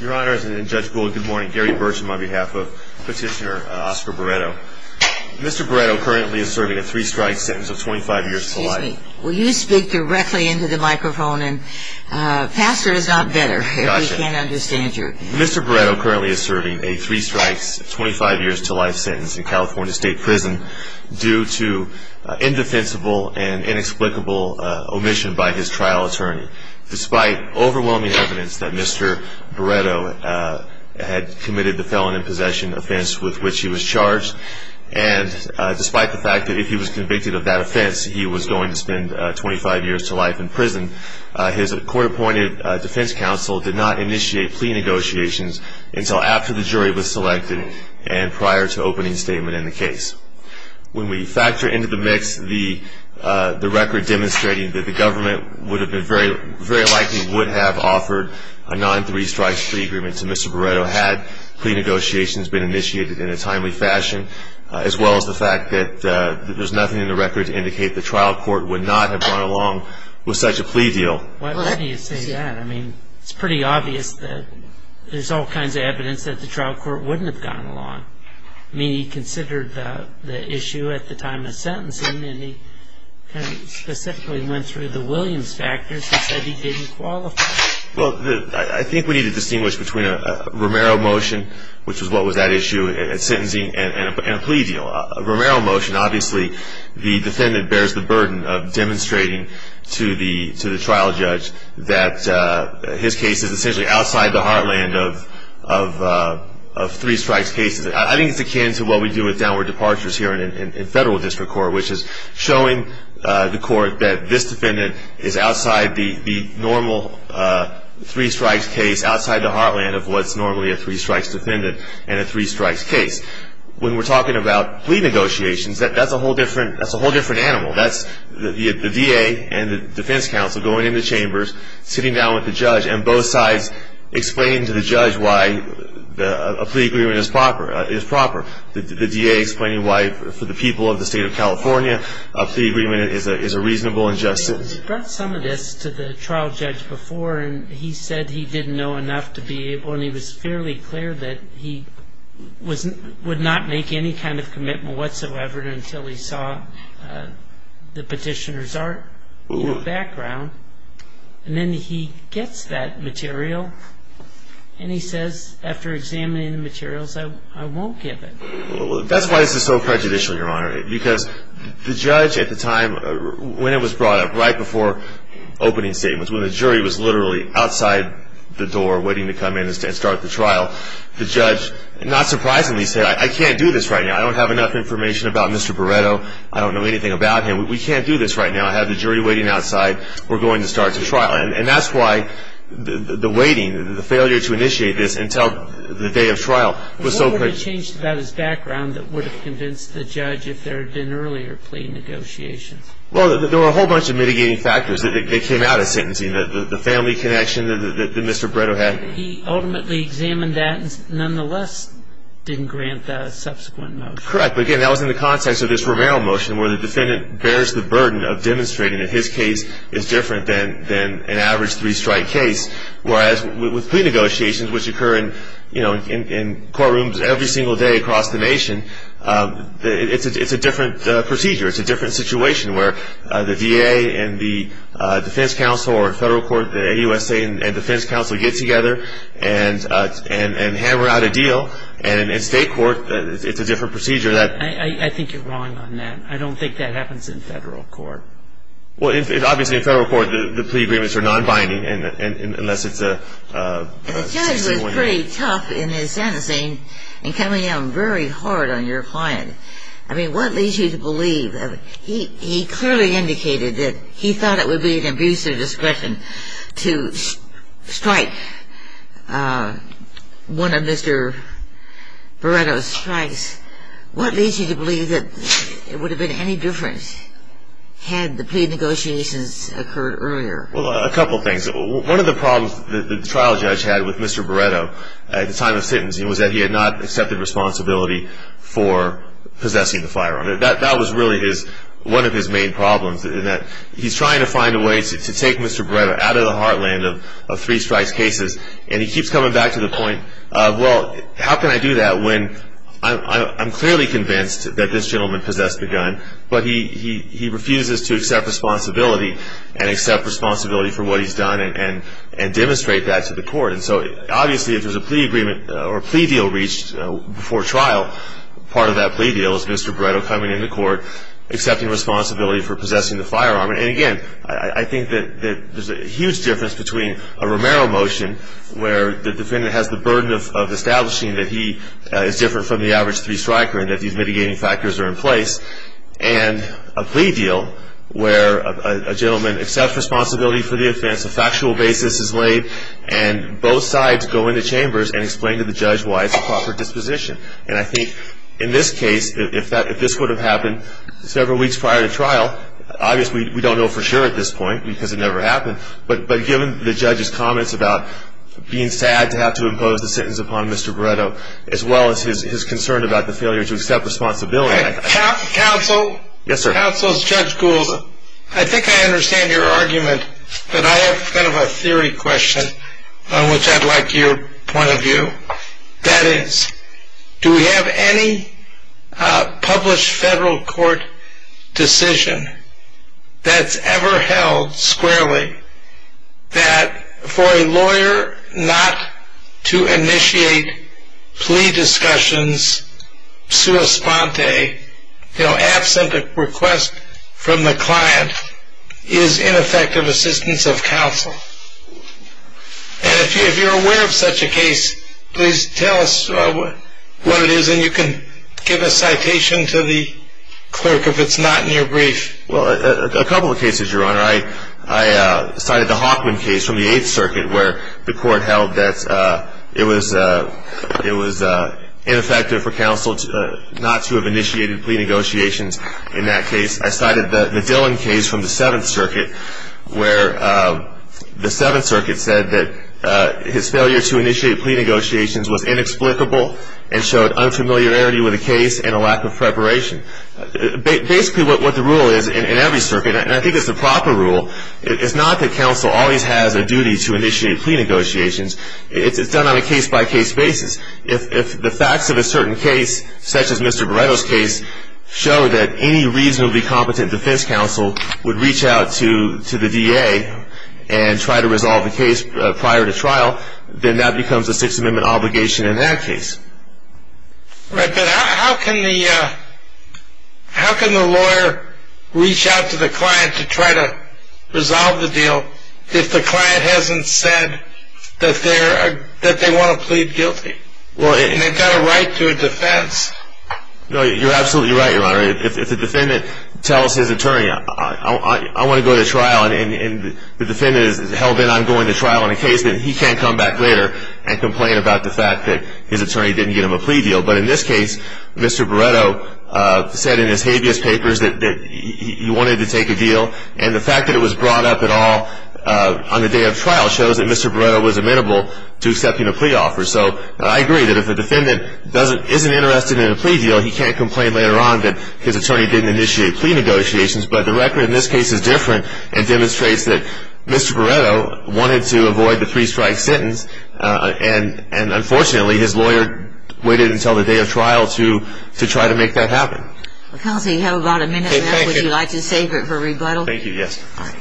Your Honor, Judge Gould, good morning. Gary Burcham on behalf of Petitioner Oscar Barretto. Mr. Barretto currently is serving a three-strike sentence of 25 years to life. Excuse me. Will you speak directly into the microphone? Pastor is not better if he can't understand you. Mr. Barretto currently is serving a three-strikes, 25 years to life sentence in California State Prison due to indefensible and inexplicable omission by his trial attorney. Despite overwhelming evidence that Mr. Barretto had committed the felon in possession offense with which he was charged and despite the fact that if he was convicted of that offense, he was going to spend 25 years to life in prison, his court-appointed defense counsel did not initiate plea negotiations until after the jury was selected and prior to opening statement in the case. When we factor into the mix the record demonstrating that the government would have been very likely would have offered a non-three-strikes free agreement to Mr. Barretto had plea negotiations been initiated in a timely fashion as well as the fact that there's nothing in the record to indicate the trial court would not have gone along with such a plea deal. Why do you say that? I mean, it's pretty obvious that there's all kinds of evidence that the trial court wouldn't have gone along. I mean, he considered the issue at the time of sentencing and he kind of specifically went through the Williams factors and said he didn't qualify. Well, I think we need to distinguish between a Romero motion, which was what was at issue at sentencing, and a plea deal. A Romero motion, obviously, the defendant bears the burden of demonstrating to the trial judge that his case is essentially outside the heartland of three-strikes cases. I think it's akin to what we do with downward departures here in federal district court, which is showing the court that this defendant is outside the normal three-strikes case, outside the heartland of what's normally a three-strikes defendant and a three-strikes case. When we're talking about plea negotiations, that's a whole different animal. That's the D.A. and the defense counsel going into chambers, sitting down with the judge, and both sides explaining to the judge why a plea agreement is proper. The D.A. explaining why, for the people of the state of California, a plea agreement is a reasonable and just sentence. He brought some of this to the trial judge before, and he said he didn't know enough to be able, that he would not make any kind of commitment whatsoever until he saw the petitioner's background. And then he gets that material, and he says, after examining the materials, I won't give it. That's why this is so prejudicial, Your Honor, because the judge at the time when it was brought up, right before opening statements, when the jury was literally outside the door waiting to come in and start the trial, the judge, not surprisingly, said, I can't do this right now. I don't have enough information about Mr. Barreto. I don't know anything about him. We can't do this right now. I have the jury waiting outside. We're going to start the trial. And that's why the waiting, the failure to initiate this until the day of trial was so prejudicial. What would have changed about his background that would have convinced the judge, if there had been earlier plea negotiations? Well, there were a whole bunch of mitigating factors that came out of sentencing, the family connection that Mr. Barreto had. He ultimately examined that and nonetheless didn't grant the subsequent motion. Correct. But, again, that was in the context of this Romero motion, where the defendant bears the burden of demonstrating that his case is different than an average three-strike case, whereas with plea negotiations, which occur in courtrooms every single day across the nation, it's a different procedure. It's a different situation where the VA and the defense counsel or federal court, the AUSA and defense counsel get together and hammer out a deal, and in state court it's a different procedure. I think you're wrong on that. I don't think that happens in federal court. Well, obviously in federal court the plea agreements are non-binding unless it's a single one. And the judge was pretty tough in his sentencing in coming down very hard on your client. I mean, what leads you to believe? He clearly indicated that he thought it would be an abuse of discretion to strike one of Mr. Barreto's strikes. What leads you to believe that it would have been any different had the plea negotiations occurred earlier? Well, a couple things. One of the problems that the trial judge had with Mr. Barreto at the time of sentencing was that he had not accepted responsibility for possessing the firearm. That was really one of his main problems, in that he's trying to find a way to take Mr. Barreto out of the heartland of three strikes cases, and he keeps coming back to the point of, well, how can I do that when I'm clearly convinced that this gentleman possessed the gun, but he refuses to accept responsibility and accept responsibility for what he's done and demonstrate that to the court. And so obviously, if there's a plea deal reached before trial, part of that plea deal is Mr. Barreto coming into court, accepting responsibility for possessing the firearm. And again, I think that there's a huge difference between a Romero motion, where the defendant has the burden of establishing that he is different from the average three-striker and that these mitigating factors are in place, and a plea deal where a gentleman accepts responsibility for the offense, a factual basis is laid, and both sides go into chambers and explain to the judge why it's a proper disposition. And I think in this case, if this would have happened several weeks prior to trial, obviously we don't know for sure at this point because it never happened, but given the judge's comments about being sad to have to impose the sentence upon Mr. Barreto, as well as his concern about the failure to accept responsibility. Counsel? Yes, sir. Counsel, Judge Gould, I think I understand your argument, but I have kind of a theory question on which I'd like your point of view. That is, do we have any published federal court decision that's ever held squarely that for a lawyer not to initiate plea discussions sua sponte, you know, absent a request from the client, is ineffective assistance of counsel? And if you're aware of such a case, please tell us what it is, and you can give a citation to the clerk if it's not in your brief. I cited the Hawkman case from the Eighth Circuit where the court held that it was ineffective for counsel not to have initiated plea negotiations in that case. I cited the Dillon case from the Seventh Circuit where the Seventh Circuit said that his failure to initiate plea negotiations was inexplicable and showed unfamiliarity with the case and a lack of preparation. Basically what the rule is in every circuit, and I think it's the proper rule, is not that counsel always has a duty to initiate plea negotiations. It's done on a case-by-case basis. If the facts of a certain case, such as Mr. Beretto's case, show that any reasonably competent defense counsel would reach out to the DA and try to resolve the case prior to trial, then that becomes a Sixth Amendment obligation in that case. Right, but how can the lawyer reach out to the client to try to resolve the deal if the client hasn't said that they want to plead guilty, and they've got a right to a defense? No, you're absolutely right, Your Honor. If the defendant tells his attorney, I want to go to trial, and the defendant is held in on going to trial on a case, then he can't come back later and complain about the fact that his attorney didn't get him a plea deal. But in this case, Mr. Beretto said in his habeas papers that he wanted to take a deal, and the fact that it was brought up at all on the day of trial shows that Mr. Beretto was amenable to accepting a plea offer. So I agree that if a defendant isn't interested in a plea deal, he can't complain later on that his attorney didn't initiate plea negotiations. But the record in this case is different and demonstrates that Mr. Beretto wanted to avoid the three-strike sentence, and unfortunately his lawyer waited until the day of trial to try to make that happen. Counsel, you have about a minute left. Would you like to save it for rebuttal? Thank you, yes. All right.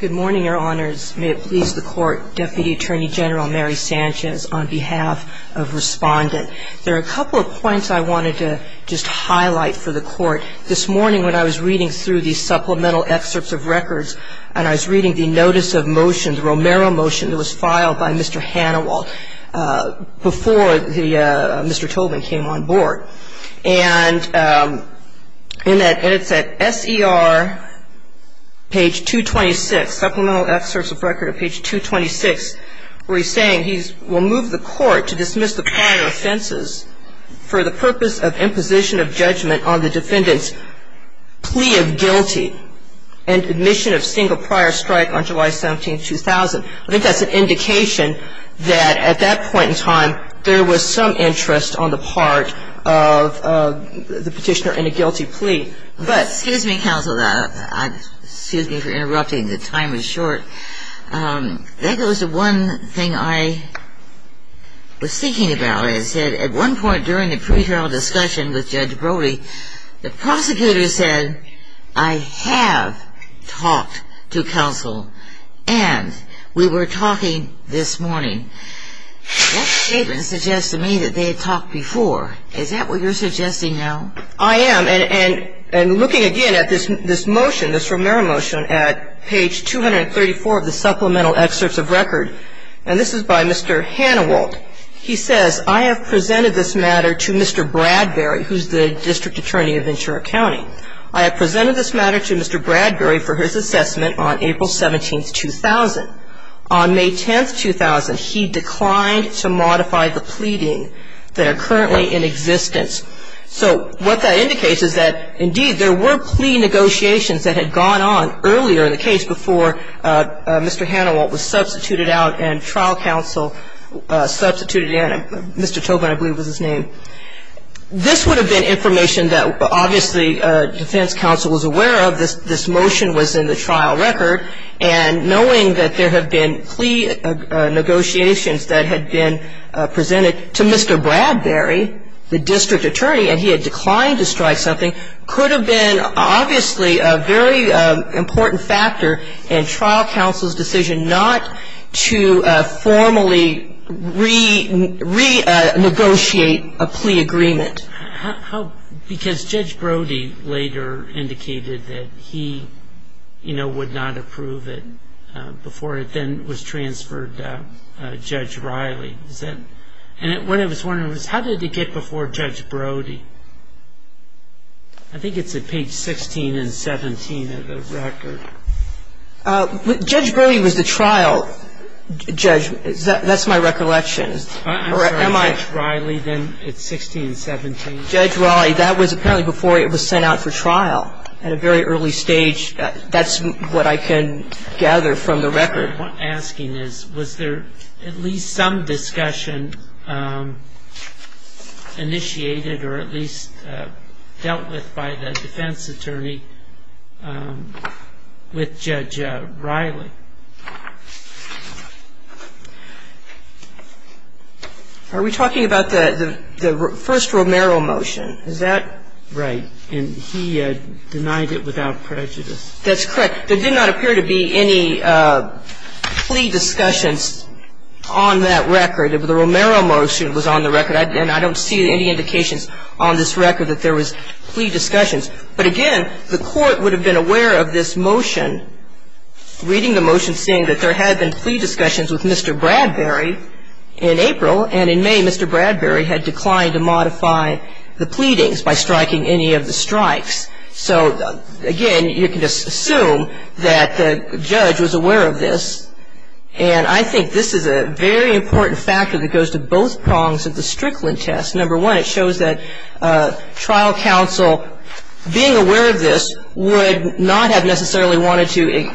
Good morning, Your Honors. May it please the Court. Deputy Attorney General Mary Sanchez on behalf of Respondent. There are a couple of points I wanted to just highlight for the Court. This morning when I was reading through the supplemental excerpts of records of Mr. Beretto, there was a notice of motion, the Romero motion, that was filed by Mr. Hanawalt before the Mr. Tobin came on board. And in that, and it's at SER page 226, supplemental excerpts of record at page 226, where he's saying he will move the Court to dismiss the prior offenses for the purpose of imposition of judgment on the defendant's plea of guilty and admission of single prior strike on July 17, 2000. I think that's an indication that at that point in time, there was some interest on the part of the Petitioner in a guilty plea. Excuse me, counsel. Excuse me for interrupting. The time is short. That goes to one thing I was thinking about. It said at one point during the pre-trial discussion with Judge Brody, the prosecutor said, I have talked to counsel and we were talking this morning. That statement suggests to me that they had talked before. Is that what you're suggesting now? I am. And looking again at this motion, this Romero motion, at page 234 of the supplemental excerpts of record, and this is by Mr. Hanawalt, he says, I have presented this matter to Mr. Bradbury, who's the District Attorney of Ventura County. I have presented this matter to Mr. Bradbury for his assessment on April 17, 2000. On May 10, 2000, he declined to modify the pleading that are currently in existence. So what that indicates is that, indeed, there were plea negotiations that had gone on earlier in the case before Mr. Hanawalt was substituted out and trial counsel substituted in. Mr. Tobin, I believe, was his name. This would have been information that obviously defense counsel was aware of. This motion was in the trial record. And knowing that there have been plea negotiations that had been presented to Mr. Bradbury, the District Attorney, and he had declined to strike something could have been obviously a very important factor in trial counsel's decision not to formally renegotiate a plea agreement. Because Judge Brody later indicated that he, you know, would not approve it before it then was transferred to Judge Riley. And what I was wondering was how did it get before Judge Brody? I think it's at page 16 and 17 of the record. Judge Brody was the trial judge. That's my recollection. I'm sorry, Judge Riley, then? It's 16 and 17. Judge Riley, that was apparently before it was sent out for trial at a very early stage. That's what I can gather from the record. The question I'm asking is, was there at least some discussion initiated or at least dealt with by the defense attorney with Judge Riley? Are we talking about the first Romero motion? Is that? Right. And he denied it without prejudice. That's correct. There did not appear to be any plea discussions on that record. The Romero motion was on the record, and I don't see any indications on this record that there was plea discussions. But again, the Court would have been aware of this motion, reading the motion saying that there had been plea discussions with Mr. Bradbury in April, and in May, Mr. Bradbury had declined to modify the pleadings by striking any of the strikes. So, again, you can just assume that the judge was aware of this, and I think this is a very important factor that goes to both prongs of the Strickland test. Number one, it shows that trial counsel, being aware of this, would not have necessarily wanted to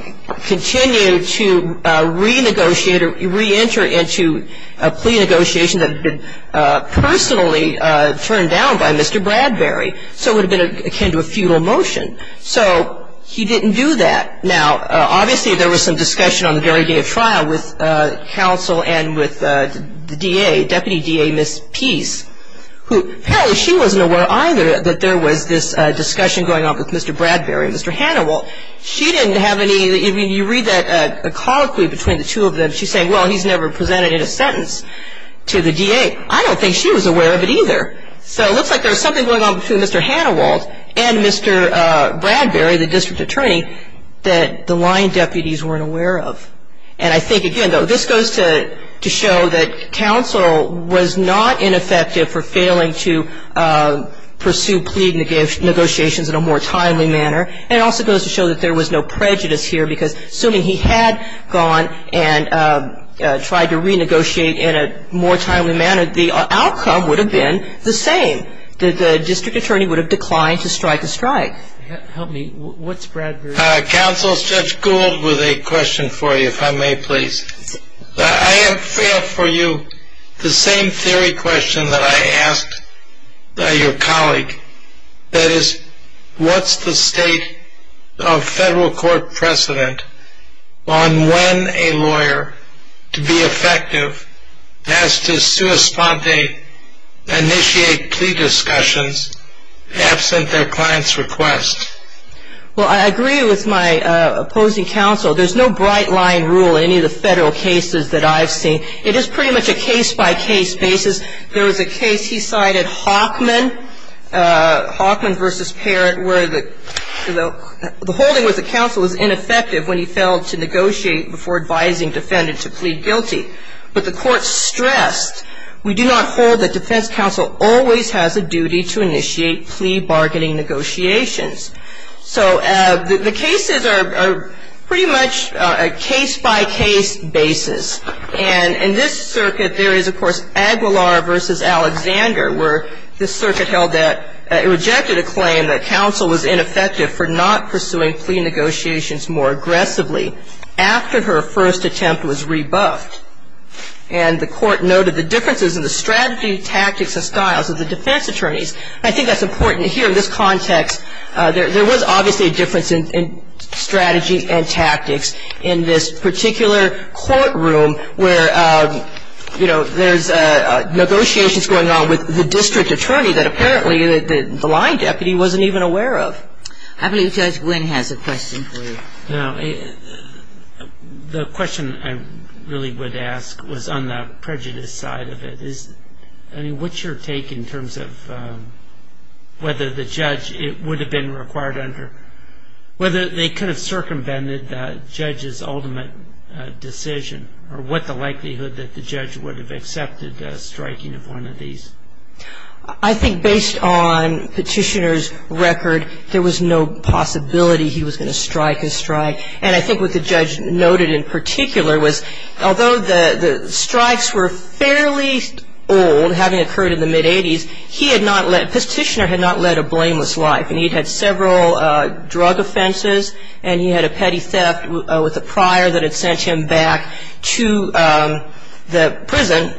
continue to renegotiate or reenter into a plea negotiation that had been personally turned down by Mr. Bradbury. So it would have been akin to a futile motion. So he didn't do that. Now, obviously there was some discussion on the very day of trial with counsel and with the DA, Deputy DA, Ms. Peace, who apparently she wasn't aware either that there was this discussion going on with Mr. Bradbury and Mr. Hannibal. She didn't have any, I mean, you read that colloquy between the two of them, she's saying, well, he's never presented in a sentence to the DA. I don't think she was aware of it either. So it looks like there was something going on between Mr. Hannibal and Mr. Bradbury, the district attorney, that the line deputies weren't aware of. And I think, again, though, this goes to show that counsel was not ineffective for failing to pursue plea negotiations in a more timely manner, and it also goes to show that there was no prejudice here because assuming he had gone and tried to renegotiate in a more timely manner, the outcome would have been the same. The district attorney would have declined to strike a strike. Help me. What's Bradbury's? Counsel, Judge Gould with a question for you, if I may, please. I have for you the same theory question that I asked your colleague, that is what's the state of federal court precedent on when a lawyer, to be effective, has to initiate plea discussions absent their client's request? Well, I agree with my opposing counsel. There's no bright-line rule in any of the federal cases that I've seen. It is pretty much a case-by-case basis. There was a case he cited, Hockman versus Parrott, where the holding with the counsel was ineffective when he failed to negotiate before advising defendant to plead guilty. But the court stressed, we do not hold that defense counsel always has a duty to initiate plea bargaining negotiations. So the cases are pretty much a case-by-case basis. And in this circuit, there is, of course, Aguilar versus Alexander, where this circuit held that it rejected a claim that counsel was ineffective for not pursuing plea negotiations more aggressively after her first attempt was rebuffed. And the court noted the differences in the strategy, tactics, and styles of the defense attorneys. I think that's important to hear in this context. There was obviously a difference in strategy and tactics in this particular courtroom where, you know, there's negotiations going on with the district attorney that apparently the line deputy wasn't even aware of. I believe Judge Wynn has a question for you. No. The question I really would ask was on the prejudice side of it. I mean, what's your take in terms of whether the judge would have been required under whether they could have circumvented the judge's ultimate decision or what the likelihood that the judge would have accepted striking of one of these? I think based on Petitioner's record, there was no possibility he was going to strike a strike. And I think what the judge noted in particular was although the strikes were fairly old, having occurred in the mid-'80s, he had not let Petitioner had not led a blameless life. And he had had several drug offenses, and he had a petty theft with a prior that had sent him back to the prison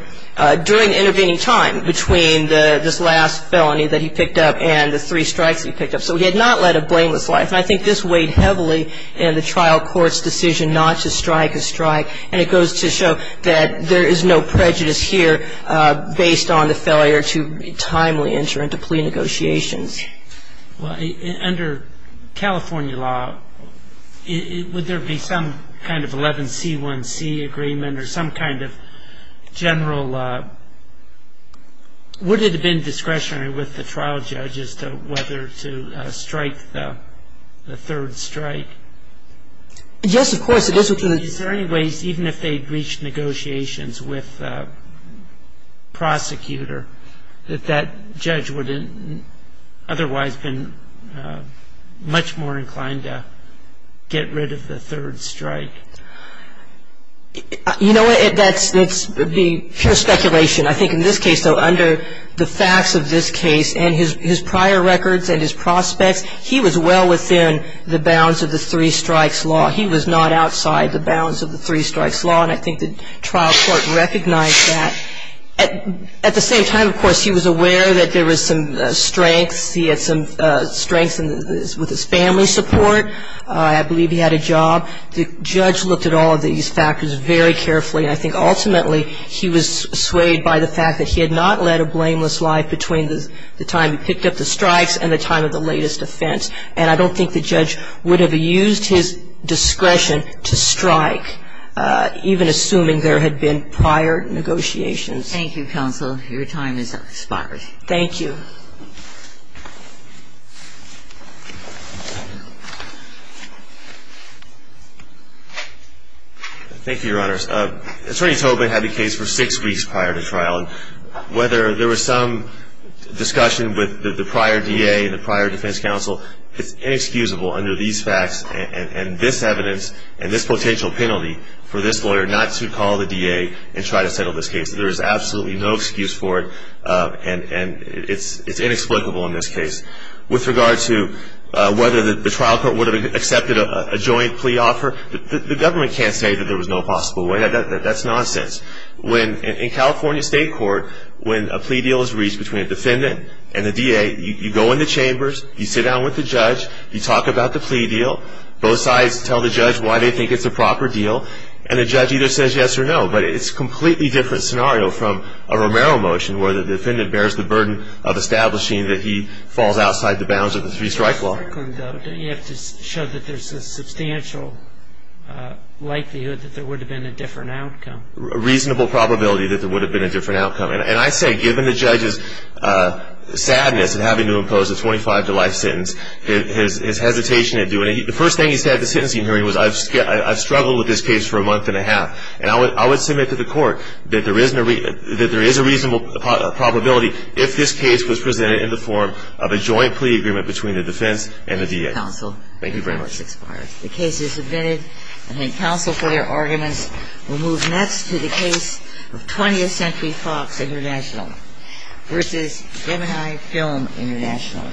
during intervening time between this last felony that he picked up and the three strikes that he picked up. So he had not led a blameless life. And I think this weighed heavily in the trial court's decision not to strike a strike. And it goes to show that there is no prejudice here based on the failure to timely enter into plea negotiations. Well, under California law, would there be some kind of 11C1C agreement or some kind of general would it have been discretionary with the trial judge as to whether to strike the third strike? Yes, of course. Is there any way, even if they had reached negotiations with the prosecutor, that that judge would have otherwise been much more inclined to get rid of the third strike? You know what, that's pure speculation. I think in this case, though, under the facts of this case and his prior records and his prospects, he was well within the bounds of the three strikes law. He was not outside the bounds of the three strikes law. And I think the trial court recognized that. At the same time, of course, he was aware that there was some strengths. He had some strengths with his family support. I believe he had a job. The judge looked at all of these factors very carefully. And I think ultimately he was swayed by the fact that he had not led a blameless life between the time he picked up the strikes and the time of the latest offense. And I don't think the judge would have used his discretion to strike, even assuming there had been prior negotiations. Thank you, counsel. Your time has expired. Thank you. Thank you, Your Honors. Attorney Tobin had the case for six weeks prior to trial. And whether there was some discussion with the prior DA and the prior defense counsel, it's inexcusable under these facts and this evidence and this potential penalty for this lawyer not to call the DA and try to settle this case. There is absolutely no excuse for it, and it's inexplicable in this case. With regard to whether the trial court would have accepted a joint plea offer, the government can't say that there was no possible way. That's nonsense. In California State Court, when a plea deal is reached between a defendant and the DA, you go in the chambers, you sit down with the judge, you talk about the plea deal, both sides tell the judge why they think it's a proper deal, and the judge either says yes or no. But it's a completely different scenario from a Romero motion, where the defendant bears the burden of establishing that he falls outside the bounds of the three-strike law. You have to show that there's a substantial likelihood that there would have been a different outcome. A reasonable probability that there would have been a different outcome. And I say, given the judge's sadness in having to impose a 25-to-life sentence, his hesitation in doing it, the first thing he said at the sentencing hearing was, I've struggled with this case for a month and a half. And I would submit to the court that there is a reasonable probability, if this case was presented in the form of a joint plea agreement between the defense and the DA. Counsel. Thank you very much. The case is submitted. I thank counsel for their arguments. We'll move next to the case of 20th Century Fox International v. Gemini Film International.